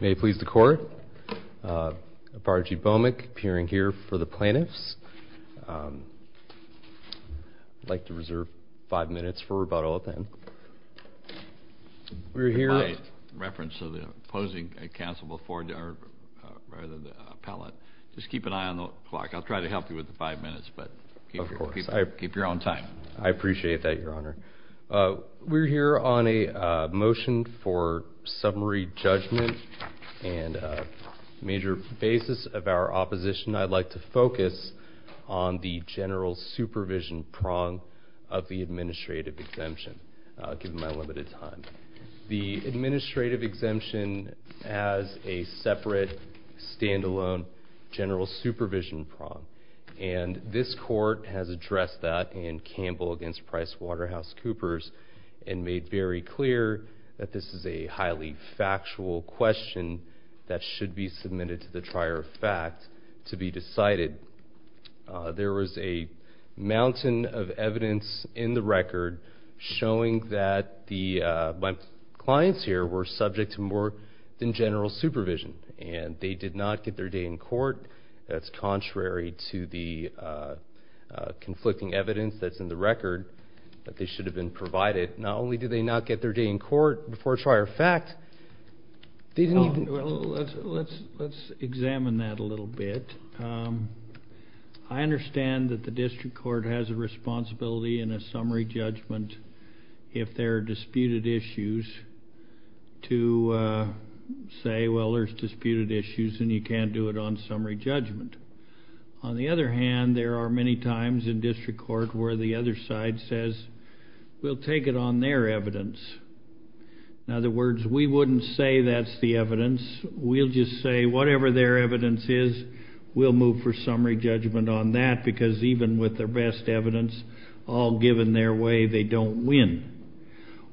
May it please the Court, Bargey Bowmick, appearing here for the plaintiffs. I'd like to reserve five minutes for rebuttal then. In my reference to the opposing counsel before the appellate, just keep an eye on the clock. I'll try to help you with the five minutes, but keep your own time. I appreciate that, Your Honor. We're here on a motion for summary judgment and a major basis of our opposition. I'd like to focus on the general supervision prong of the administrative exemption. I'll give my limited time. The administrative exemption has a separate, stand-alone general supervision prong. This Court has addressed that in Campbell v. Price Waterhouse Coopers and made very clear that this is a highly factual question that should be submitted to the trier of fact to be decided. There was a mountain of evidence in the record showing that the clients here were subject to more than general supervision and they did not get their day in court. That's contrary to the conflicting evidence that's in the record that they should have been provided. Not only did they not get their day in court before trier of fact, they didn't even... Let's examine that a little bit. I understand that the district court has a discretion to move for summary judgment if there are disputed issues to say, well, there's disputed issues and you can't do it on summary judgment. On the other hand, there are many times in district court where the other side says, we'll take it on their evidence. In other words, we wouldn't say that's the evidence. We'll just say whatever their evidence is, we'll move for summary judgment on that because even with their best evidence all given their way, they don't win.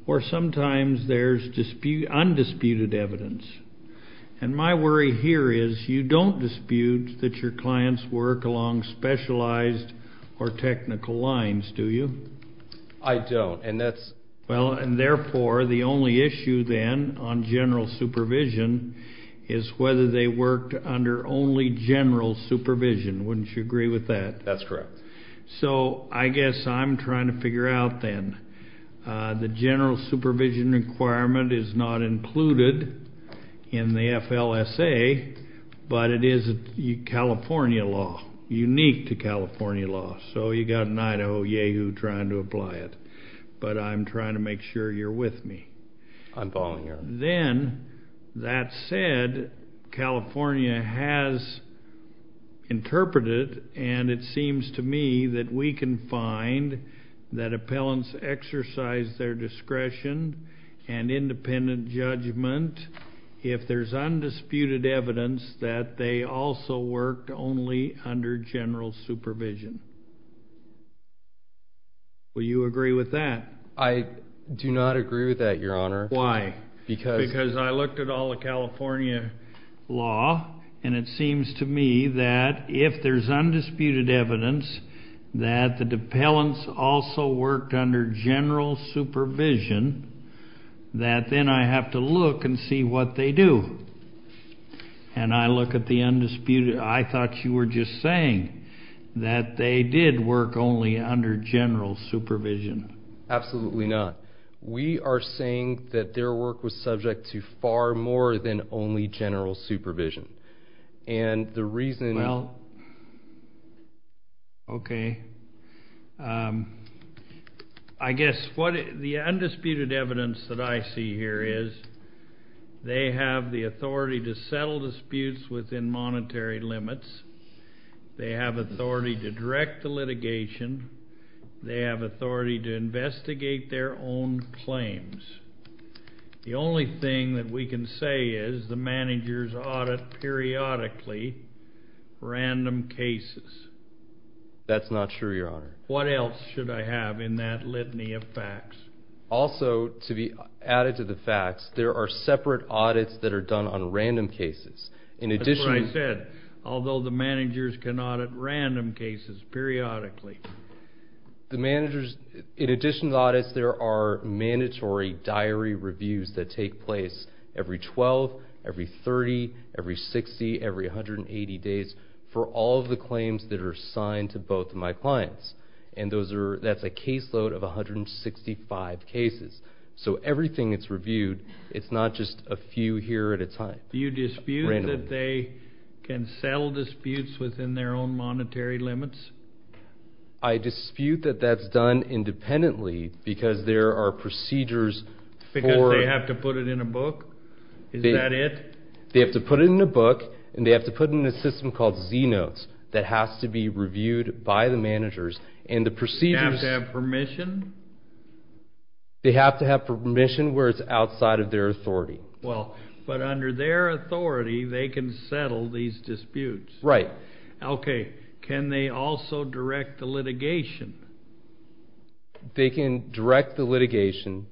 Or sometimes there's undisputed evidence. And my worry here is you don't dispute that your clients work along specialized or technical lines, do you? I don't and that's... Well, and therefore the only issue then on general supervision is whether they worked under only general supervision. Wouldn't you agree with that? That's correct. So I guess I'm trying to figure out then, the general supervision requirement is not included in the FLSA, but it is California law, unique to California law. So you got an Idaho yahoo trying to apply it, but I'm trying to make sure you're with me. I'm following California has interpreted and it seems to me that we can find that appellants exercise their discretion and independent judgment if there's undisputed evidence that they also worked only under general supervision. Will you agree with that? I do not agree with that, Your Honor. Why? Because I looked at all the California law and it seems to me that if there's undisputed evidence that the appellants also worked under general supervision, that then I have to look and see what they do. And I look at the undisputed, I thought you were just saying that they did work only under general supervision. Absolutely not. We are saying that their work was subject to far more than only general supervision. And the reason... Well, okay. I guess what the undisputed evidence that I see here is they have the authority to settle disputes within monetary limits. They have authority to direct the litigation. They have authority to investigate their own claims. The only thing that we can say is the managers audit periodically random cases. That's not sure, Your Honor. What else should I have in that litany of facts? Also to be added to the facts, there are separate audits that are done on random cases. In addition... That's what I said. Although the managers can audit random cases periodically. The managers, in addition to audits, there are mandatory diary reviews that take place every 12, every 30, every 60, every 180 days for all of the claims that are signed to both of my clients. And that's a caseload of 165 cases. So everything that's reviewed, it's not just a few here at a time. You dispute that they can settle disputes within their own monetary limits? I dispute that that's done independently because there are procedures for... Because they have to put it in a book? Is that it? They have to put it in a book, and they have to put it in a system called Z-Notes that has to be reviewed by the managers. And the procedures... They have to have permission? They have to have permission where it's outside of their authority. Well, but under their authority, they can settle these disputes? Right. Okay. Can they also direct the litigation? They can direct the litigation.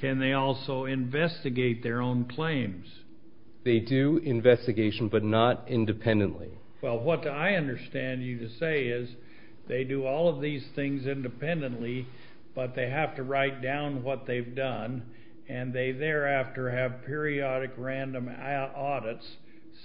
Can they also investigate their own claims? They do investigation, but not independently. Well, what I understand you say is they do all of these things independently, but they have to write down what they've done, and they thereafter have periodic random audits.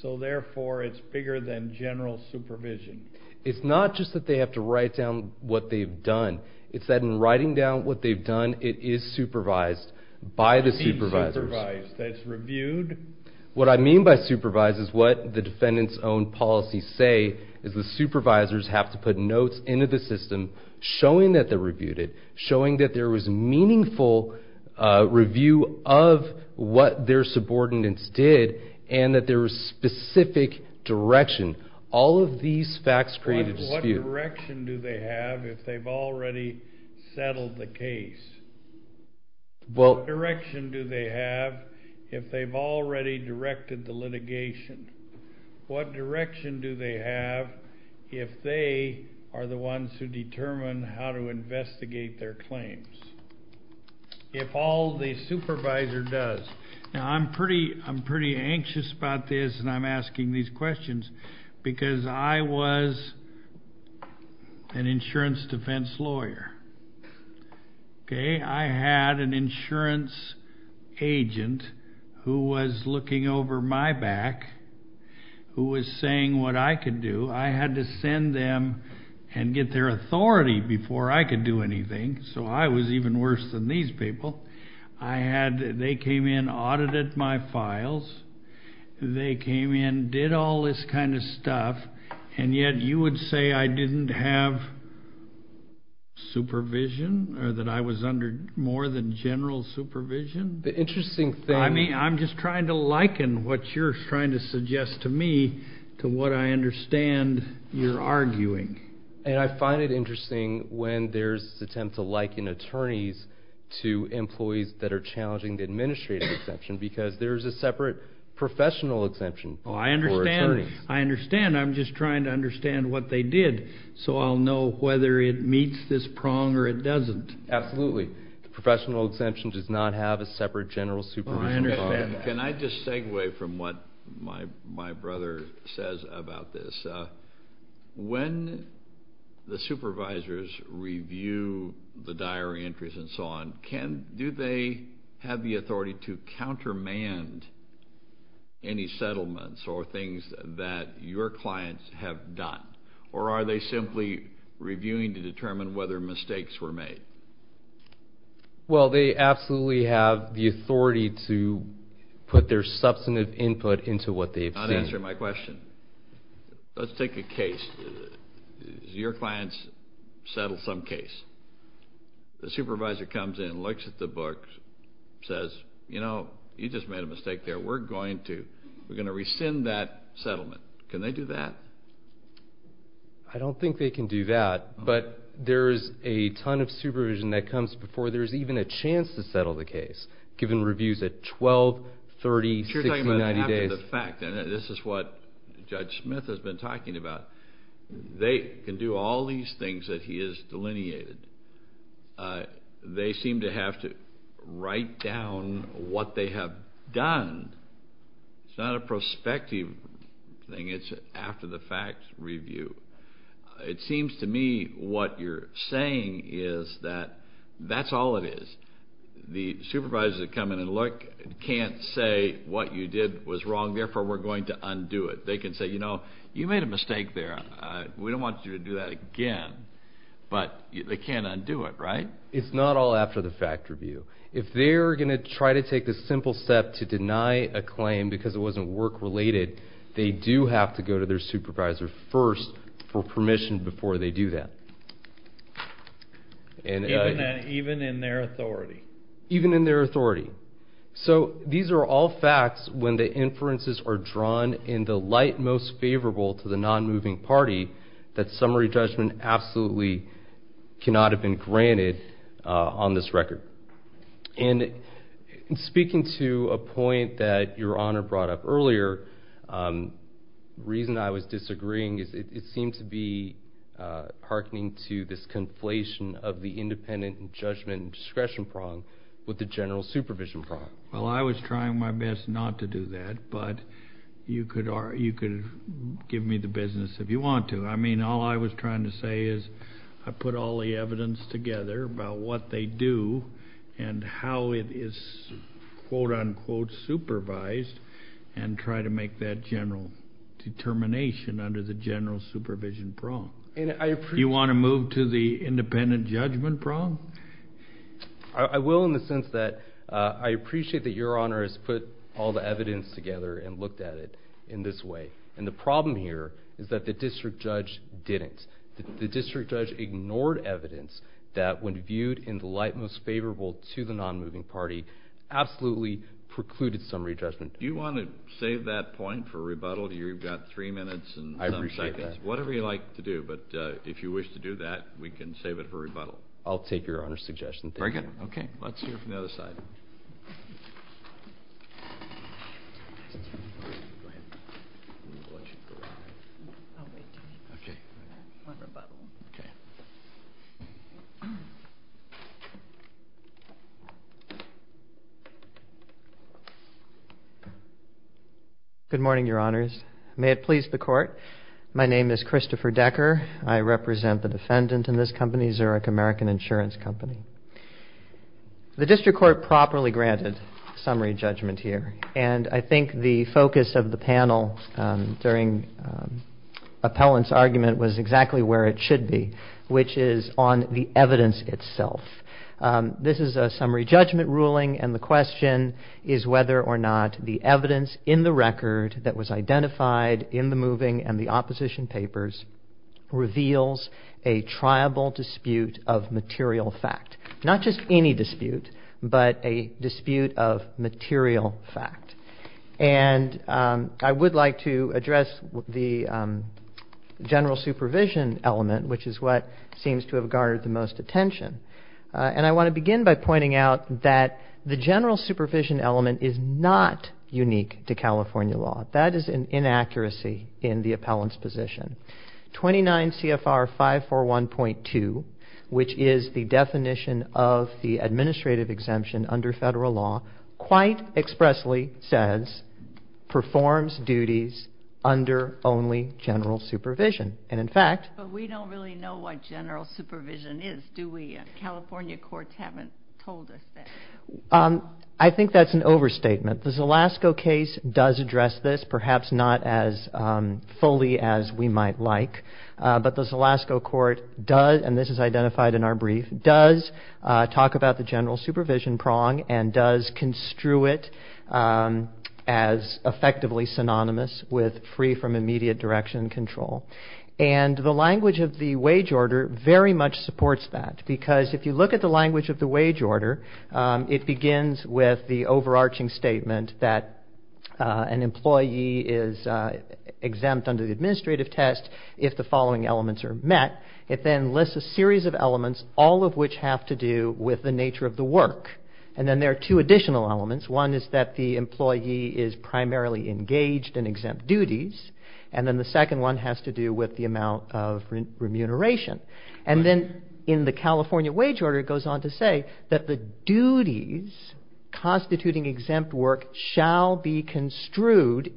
So therefore, it's bigger than general supervision. It's not just that they have to write down what they've done. It's that in writing down what they've done, it is supervised by the supervisors. It's reviewed? What I mean by supervised is what the defendant's own policies say, is the supervisors have to put notes into the system showing that they reviewed it, showing that there was meaningful review of what their subordinates did, and that there was specific direction. All of these facts create a dispute. What direction do they have if they've already settled the case? What direction do they have if they've directed the litigation? What direction do they have if they are the ones who determine how to investigate their claims? If all the supervisor does. Now, I'm pretty anxious about this, and I'm asking these questions, because I was an insurance defense lawyer. Okay? I had an attorney who was looking over my back, who was saying what I could do. I had to send them and get their authority before I could do anything, so I was even worse than these people. I had, they came in, audited my files. They came in, did all this kind of stuff, and yet you would say I didn't have supervision, or that I was under more than general supervision? The interesting thing... I mean, I'm just trying to liken what you're trying to suggest to me to what I understand you're arguing. And I find it interesting when there's an attempt to liken attorneys to employees that are challenging the administrative exemption, because there's a separate professional exemption. Oh, I understand. I understand. I'm just trying to understand what they did, so I'll know whether it meets this prong, or it doesn't. Absolutely. The professional exemption does not have a separate general supervision. Can I just segue from what my brother says about this? When the supervisors review the diary entries and so on, do they have the authority to countermand any settlements or things that your clients have done? Or are they simply reviewing to determine whether mistakes were made? Well, they absolutely have the authority to put their substantive input into what they've seen. Unanswer my question. Let's take a case. Your clients settle some case. The supervisor comes in, looks at the book, says, you know, you just made a mistake there. We're going to, we're going to rescind that settlement. Can they do that? I don't think they can do that, but there's a ton of supervision that comes before there's even a chance to settle the case, given reviews at 12, 30, 60, 90 days. You're talking about after the fact. This is what Judge Smith has been talking about. They can do all these things that he has delineated. They seem to have to write down what they have done. It's not a prospective thing. It's after the fact review. It seems to me what you're saying is that that's all it is. The supervisors that come in and look can't say what you did was wrong, therefore we're going to undo it. They can say, you know, you made a mistake there. We don't want you to do that again, but they can't undo it, right? It's not all after the fact review. If they're going to try to take this simple step to deny a claim because it wasn't work-related, they do have to go to their supervisor first for permission before they do that. Even in their authority? Even in their authority. So these are all facts when the inferences are drawn in the light most favorable to the non-moving party that summary judgment absolutely cannot have been granted on this record. And speaking to a point that Your Honor brought up earlier, the reason I was disagreeing is it seemed to be hearkening to this conflation of the independent and judgment discretion prong with the general supervision prong. Well, I was trying my best not to do that, but you could give me the business if you want to. I mean, all I was trying to say is I put all the evidence together about what they do and how it is quote-unquote supervised and try to make that general determination under the general supervision prong. You want to move to the independent judgment prong? I will in the sense that I appreciate that Your Honor has put all the evidence together and looked at it in this way. And the problem here is that the district judge didn't. The district judge ignored evidence that when viewed in the light most favorable to the non-moving party absolutely precluded summary judgment. Do you want to save that point for rebuttal? You've got three minutes and some seconds. I appreciate that. Whatever you like to do, but if you wish to do that, we can save it for rebuttal. I'll take your Honor's suggestion. Very good. Okay. Let's hear from the other side. Good morning, Your Honors. May it please the court. My name is Christopher Decker. I represent the defendant in this company, Zurich American Insurance Company. The district court properly granted summary judgment here. And I think the focus of the panel during appellant's argument was exactly where it should be, which is on the evidence itself. This is a summary judgment ruling and the question is whether or not the evidence in the record that was identified in the moving and the opposition papers reveals a triable dispute of the material fact. Not just any dispute, but a dispute of material fact. And I would like to address the general supervision element, which is what seems to have garnered the most attention. And I want to begin by pointing out that the general supervision element is not unique to California law. That is an inaccuracy in the appellant's position. 29 CFR 541.2, which is the definition of the administrative exemption under federal law, quite expressly says performs duties under only general supervision. And in fact... But we don't really know what general supervision is, do we? California courts haven't told us that. I think that's an overstatement. The Zalasko case does address this, perhaps not as fully as we might like. But the Zalasko court does, and this is identified in our brief, does talk about the general supervision prong and does construe it as effectively synonymous with free from immediate direction control. And the language of the wage order very much supports that. Because if you look at the language of the wage order, it begins with the overarching statement that an employee is exempt under the administrative test if the following elements are met. It then lists a series of elements, all of which have to do with the nature of the work. And then there are two additional elements. One is that the employee is primarily engaged in exempt duties. And then the second one has to do with the amount of remuneration. And then in the California wage order, it goes on to say that the duties constituting exempt work shall be construed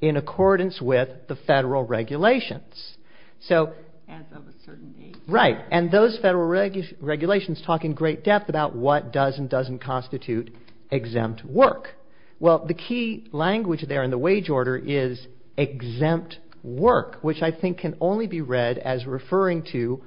in accordance with the federal regulations. So... language there in the wage order is exempt work, which I think can only be read as referring to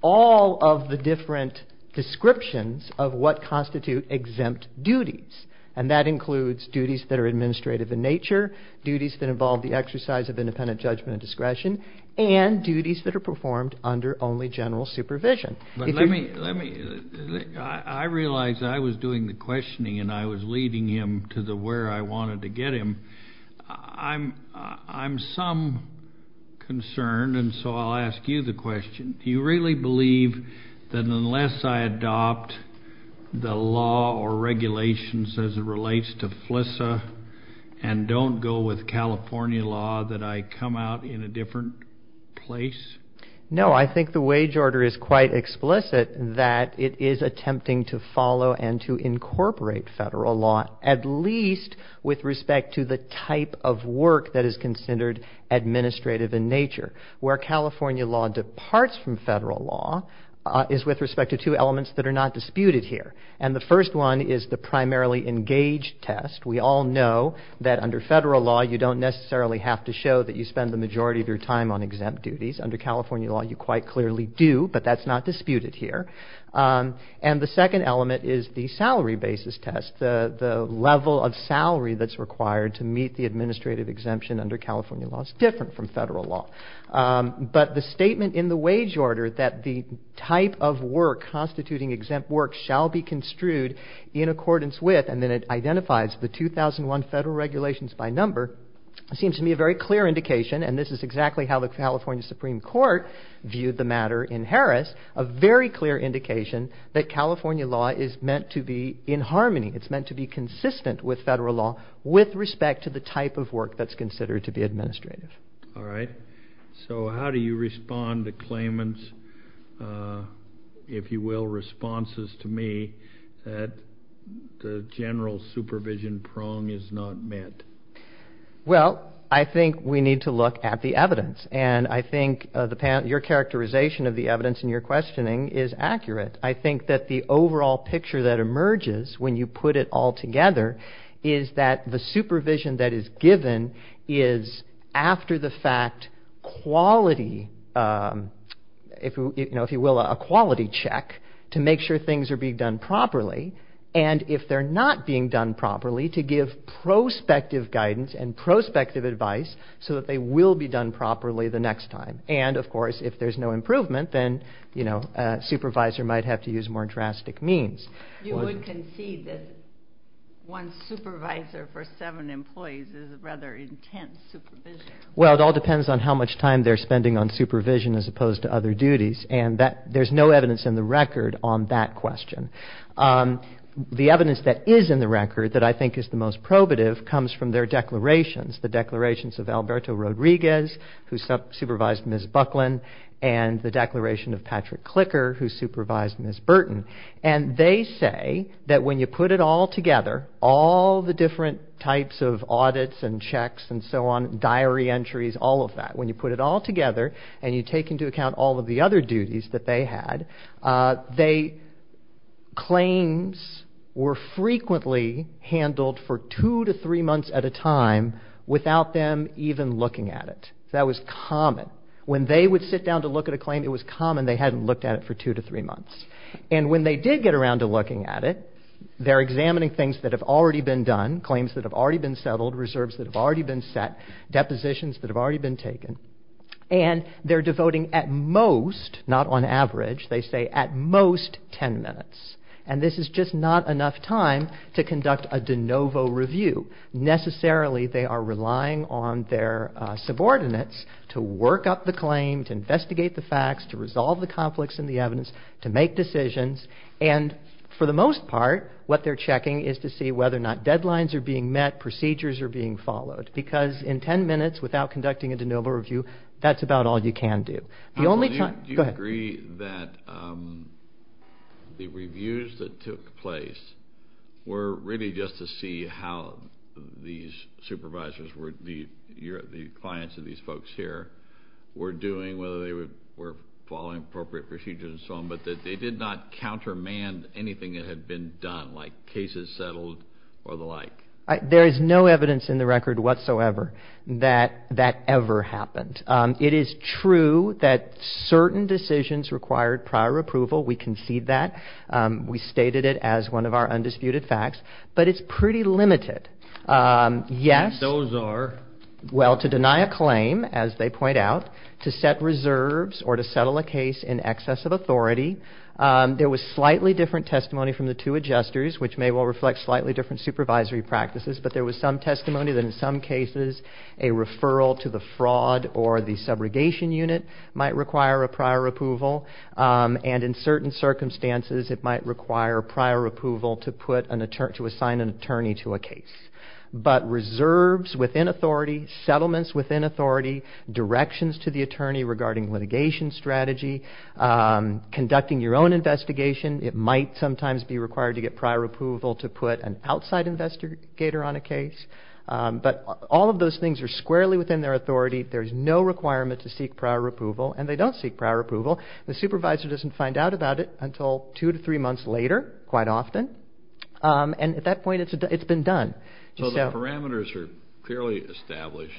all of the different descriptions of what constitute exempt duties. And that includes duties that are administrative in nature, duties that involve the exercise of independent judgment and discretion, and duties that are performed under only general supervision. I realize I was doing the questioning and I was leading him to the where I wanted to get him. I'm some concerned. And so I'll ask you the question. Do you really believe that unless I adopt the law or regulations as it relates to FLSA and don't go with California law that I come out in a different place? No, I think the wage order is quite explicit that it is attempting to follow and to incorporate federal law, at least with respect to the type of work that is considered administrative in nature where California law departs from federal law is with respect to two elements that are not disputed here. And the first one is the primarily engaged test. We all know that under federal law, you don't necessarily have to show that you spend the majority of your time on exempt duties. Under California law, you quite clearly do, but that's not disputed here. And the second element is the salary basis test. The level of salary that's required to meet the administrative exemption under California law is different from federal law. But the statement in the wage order that the type of work constituting exempt work shall be construed in accordance with, and then it identifies the 2001 federal regulations by number, seems to me a very clear indication, and this is exactly how the California Supreme Court viewed the matter in Harris, a very clear indication that California law is meant to be in harmony. It's meant to be consistent with federal law with respect to the type of work that's considered to be administrative. All right. So how do you respond to claimant's, if you will, responses to me that the general supervision prong is not met? Well, I think we need to look at the evidence, and I think your characterization of the evidence in your questioning is accurate. I think that the overall picture that emerges when you put it all together is that the supervision that is given is after the fact quality, if you will, a quality check to make sure things are being done properly. And if they're not being done properly, to give prospective guidance and prospective advice so that they will be done properly the next time. And, of course, if there's no improvement, then, you know, a supervisor might have to use more drastic means. You would concede that one supervisor for seven employees is a rather intense supervision. They say that when you put it all together, all the different types of audits and checks and so on, diary entries, all of that, when you put it all together and you take into account all of the other duties that they had, claims were frequently handled for two to three months at a time without them even looking at it. That was common. When they would sit down to look at a claim, it was common they hadn't looked at it for two to three months. And when they did get around to looking at it, they're examining things that have already been done, claims that have already been settled, reserves that have already been set, depositions that have already been taken, and they're devoting at most, not on average, they say at most ten minutes. And this is just not enough time to conduct a de novo review. Necessarily, they are relying on their subordinates to work up the claim, to investigate the facts, to resolve the conflicts in the evidence, to make decisions, and for the most part, what they're checking is to see whether or not deadlines are being met, procedures are being followed. Because in ten minutes without conducting a de novo review, that's about all you can do. Do you agree that the reviews that took place were really just to see how these supervisors, the clients of these folks here, were doing, whether they were following appropriate procedures and so on, but that they did not countermand anything that had been done, like cases settled or the like? There is no evidence in the record whatsoever that that ever happened. It is true that certain decisions required prior approval. We concede that. We stated it as one of our undisputed facts. But it's pretty limited. Yes. Those are? Well, to deny a claim, as they point out, to set reserves or to settle a case in excess of authority. There was slightly different testimony from the two adjusters, which may well reflect slightly different supervisory practices, but there was some testimony that in some cases a referral to the fraud or the subrogation unit might require a prior approval. And in certain circumstances it might require prior approval to assign an attorney to a case. But reserves within authority, settlements within authority, directions to the attorney regarding litigation strategy, conducting your own investigation, it might sometimes be required to get prior approval to put an outside investigator on a case. But all of those things are squarely within their authority. There is no requirement to seek prior approval, and they don't seek prior approval. The supervisor doesn't find out about it until two to three months later, quite often. And at that point it's been done. So the parameters are clearly established,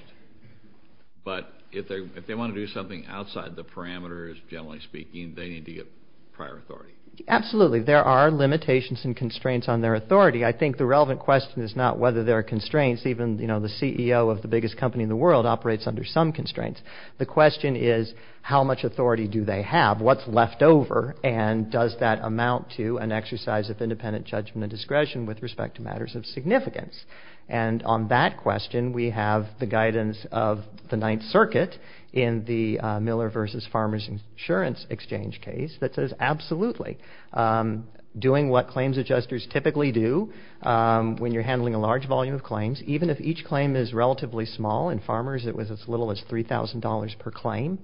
but if they want to do something outside the parameters, generally speaking, they need to get prior authority? Absolutely. There are limitations and constraints on their authority. I think the relevant question is not whether there are constraints. Even, you know, the CEO of the biggest company in the world operates under some constraints. The question is how much authority do they have? What's left over? And does that amount to an exercise of independent judgment and discretion with respect to matters of significance? And on that question we have the guidance of the Ninth Circuit in the Miller v. Farmers Insurance Exchange case that says absolutely. Doing what claims adjusters typically do when you're handling a large volume of claims, even if each claim is relatively small, in farmers it was as little as $3,000 per claim,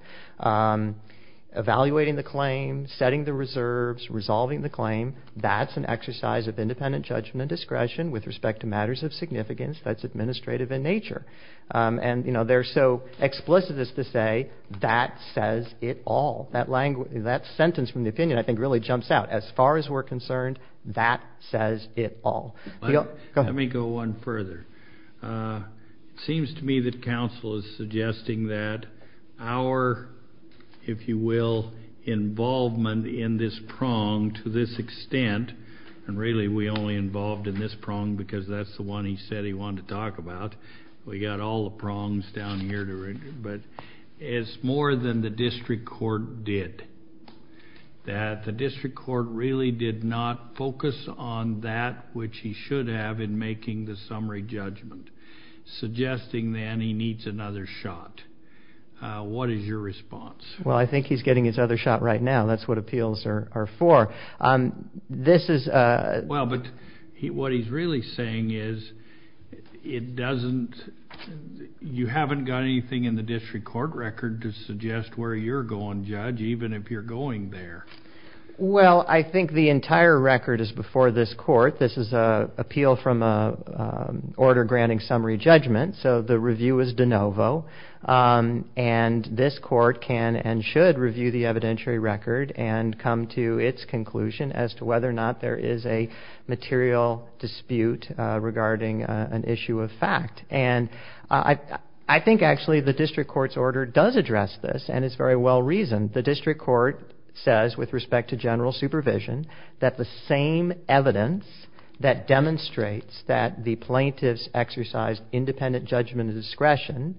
evaluating the claim, setting the reserves, resolving the claim, that's an exercise of independent judgment and discretion with respect to matters of significance. That's administrative in nature. And, you know, they're so explicit as to say that says it all. That sentence from the opinion, I think, really jumps out. As far as we're concerned, that says it all. Let me go one further. It seems to me that counsel is suggesting that our, if you will, involvement in this prong to this extent, and really we only involved in this prong because that's the one he said he wanted to talk about. We got all the prongs down here, but it's more than the district court did. That the district court really did not focus on that which he should have in making the summary judgment, suggesting then he needs another shot. What is your response? Well, I think he's getting his other shot right now. That's what appeals are for. This is... Well, but what he's really saying is it doesn't, you haven't got anything in the district court record to suggest where you're going, Judge, even if you're going there. Well, I think the entire record is before this court. This is an appeal from an order granting summary judgment. So the review is de novo. And this court can and should review the evidentiary record and come to its conclusion as to whether or not there is a material dispute regarding an issue of fact. And I think actually the district court's order does address this and it's very well reasoned. The district court says with respect to general supervision that the same evidence that demonstrates that the plaintiffs exercised independent judgment of discretion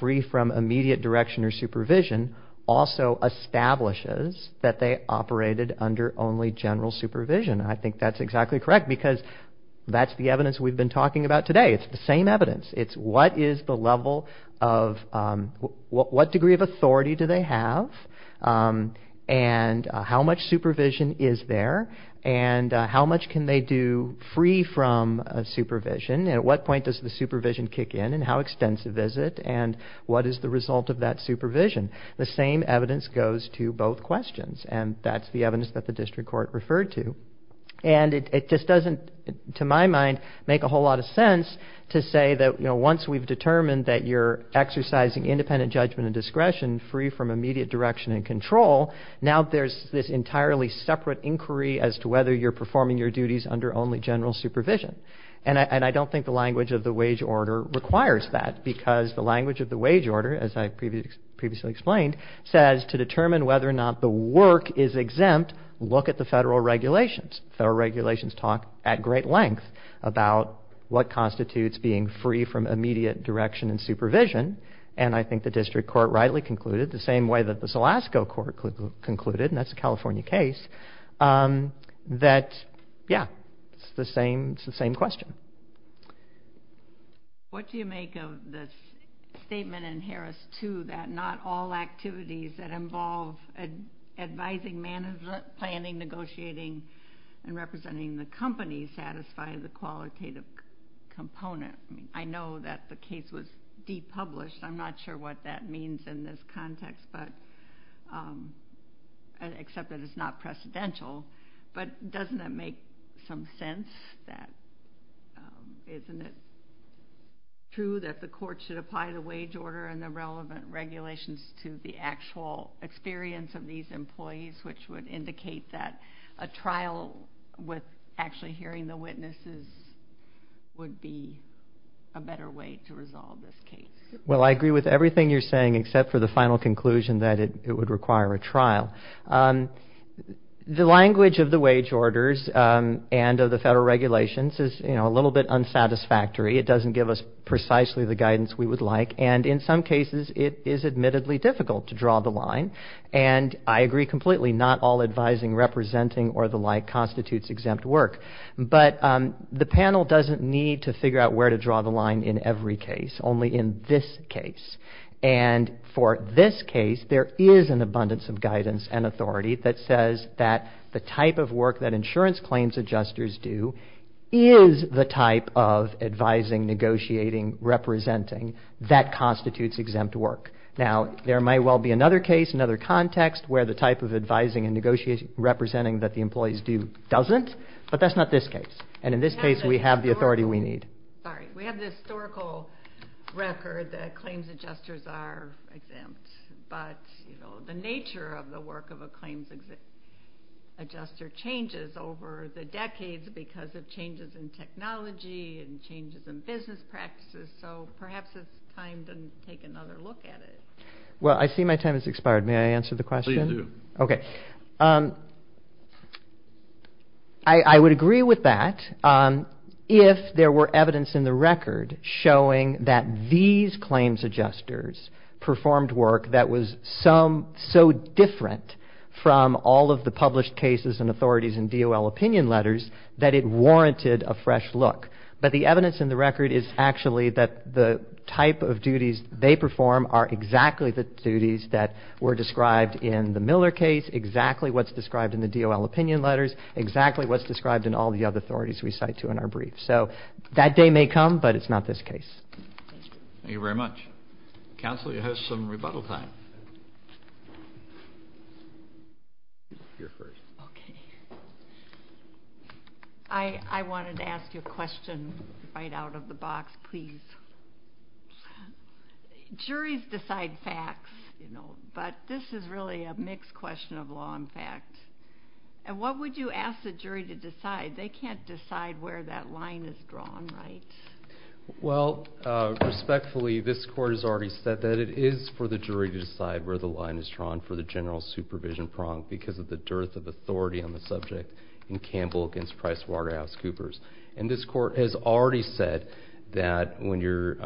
free from immediate direction or supervision also establishes that they operated under only general supervision. I think that's exactly correct because that's the evidence we've been talking about today. It's the same evidence. It's what is the level of, what degree of authority do they have and how much supervision is there and how much can they do free from supervision and at what point does the supervision kick in and how extensive is it and what is the result of that supervision? The same evidence goes to both questions and that's the evidence that the district court referred to. And it just doesn't, to my mind, make a whole lot of sense to say that, you know, once we've determined that you're exercising independent judgment of discretion free from immediate direction and control, now there's this entirely separate inquiry as to whether you're performing your duties under only general supervision. And I don't think the language of the wage order requires that because the language of the wage order, as I previously explained, says to determine whether or not the work is exempt, look at the federal regulations. Federal regulations talk at great length about what constitutes being free from immediate direction and supervision. And I think the district court rightly concluded, the same way that the Zalasko court concluded, and that's a California case, that, yeah, it's the same question. What do you make of the statement in Harris 2 that not all activities that involve advising, management, planning, negotiating, and representing the company satisfy the qualitative component? I know that the case was de-published. I'm not sure what that means in this context, except that it's not precedential. But doesn't it make some sense that, isn't it true that the court should apply the wage order and the relevant regulations to the actual experience of these employees, which would indicate that a trial with actually hearing the witnesses would be, a better way to resolve this case? Only in this case. And for this case, there is an abundance of guidance and authority that says that the type of work that insurance claims adjusters do is the type of advising, negotiating, representing that constitutes exempt work. Now, there might well be another case, another context where the type of advising and negotiating, representing that the employees do doesn't, but that's not this case. And in this case, we have the authority we need. We have the historical record that claims adjusters are exempt, but the nature of the work of a claims adjuster changes over the decades because of changes in technology and changes in business practices. So perhaps it's time to take another look at it. Well, I see my time has expired. May I answer the question? I would agree with that if there were evidence in the record showing that these claims adjusters performed work that was so different from all of the published cases and authorities and DOL opinion letters that it warranted a fresh look. But the evidence in the record is actually that the type of duties they perform are exactly the duties that were described in the Miller case, exactly what's described in the DOL opinion letters, exactly what's described in all the other authorities we cite to in our brief. So that day may come, but it's not this case. Thank you very much. Counsel, you have some rebuttal time. You're first. Okay. I wanted to ask you a question right out of the box, please. Juries decide facts, but this is really a mixed question of law and fact. And what would you ask the jury to decide? They can't decide where that line is drawn, right? Well, respectfully, this court has already said that it is for the jury to decide where the line is drawn for the general supervision prong because of the dearth of authority on the subject in Campbell against Price Waterhouse Coopers. And this court has already said that when you're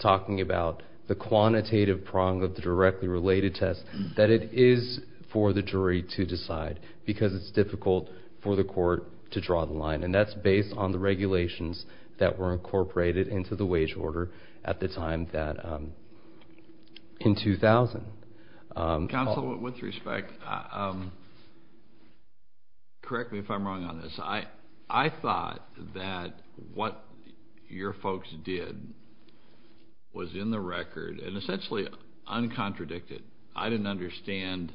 talking about the quantitative prong of the directly related test, that it is for the jury to decide because it's difficult for the court to draw the line. And that's based on the regulations that were incorporated into the wage order at the time that in 2000. Counsel, with respect, correct me if I'm wrong on this. I thought that what your folks did was in the record and essentially uncontradicted. I didn't understand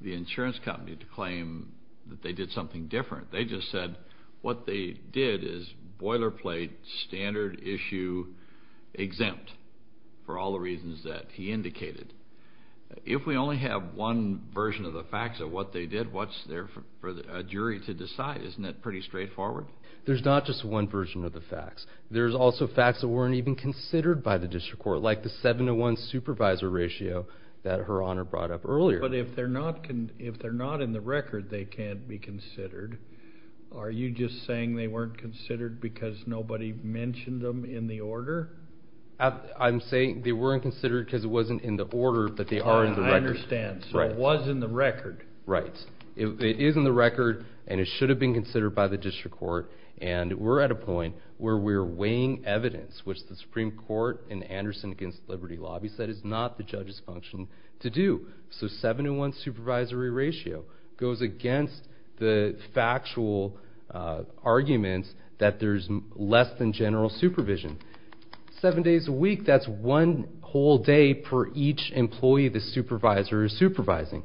the insurance company to claim that they did something different. They just said what they did is boilerplate standard issue exempt for all the reasons that he indicated. If we only have one version of the facts of what they did, what's there for a jury to decide? Isn't that pretty straightforward? There's not just one version of the facts. There's also facts that weren't even considered by the district court, like the 7 to 1 supervisor ratio that Her Honor brought up earlier. But if they're not in the record, they can't be considered. Are you just saying they weren't considered because nobody mentioned them in the order? I'm saying they weren't considered because it wasn't in the order, but they are in the record. I understand. So it was in the record. Right. It is in the record, and it should have been considered by the district court. And we're at a point where we're weighing evidence, which the Supreme Court in Anderson against Liberty Lobby said is not the judge's function to do. So 7 to 1 supervisory ratio goes against the factual arguments that there's less than general supervision. Seven days a week, that's one whole day for each employee the supervisor is supervising.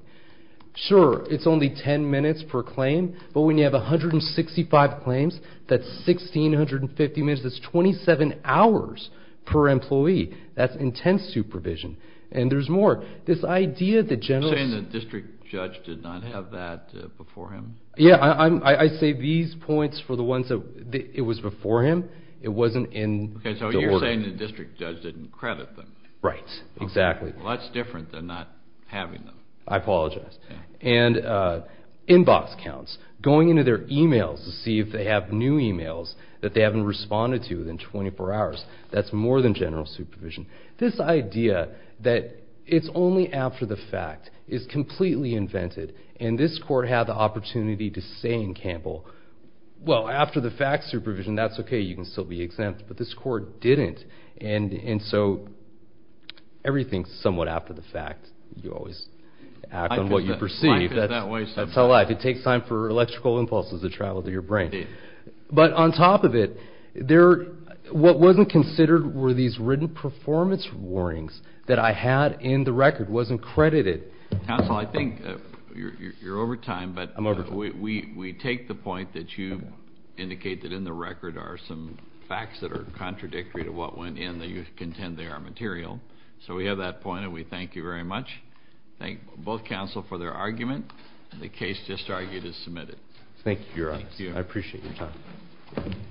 Sure, it's only 10 minutes per claim, but when you have 165 claims, that's 1,650 minutes. That's 27 hours per employee. That's intense supervision. And there's more. You're saying the district judge did not have that before him? Yeah, I say these points for the ones that it was before him. It wasn't in the order. Okay, so you're saying the district judge didn't credit them. Right, exactly. Well, that's different than not having them. I apologize. And inbox counts, going into their e-mails to see if they have new e-mails that they haven't responded to in 24 hours. That's more than general supervision. This idea that it's only after the fact is completely invented, and this court had the opportunity to say in Campbell, well, after the fact supervision, that's okay, you can still be exempt, but this court didn't. And so everything's somewhat after the fact. You always act on what you perceive. Life is that way sometimes. That's how life is. It takes time for electrical impulses to travel through your brain. Indeed. But on top of it, what wasn't considered were these written performance warnings that I had in the record, wasn't credited. Counsel, I think you're over time. I'm over time. But we take the point that you indicate that in the record are some facts that are contradictory to what went in, that you contend they are material. So we have that point, and we thank you very much. Thank both counsel for their argument. The case just argued is submitted. Thank you. Thank you. I appreciate your time.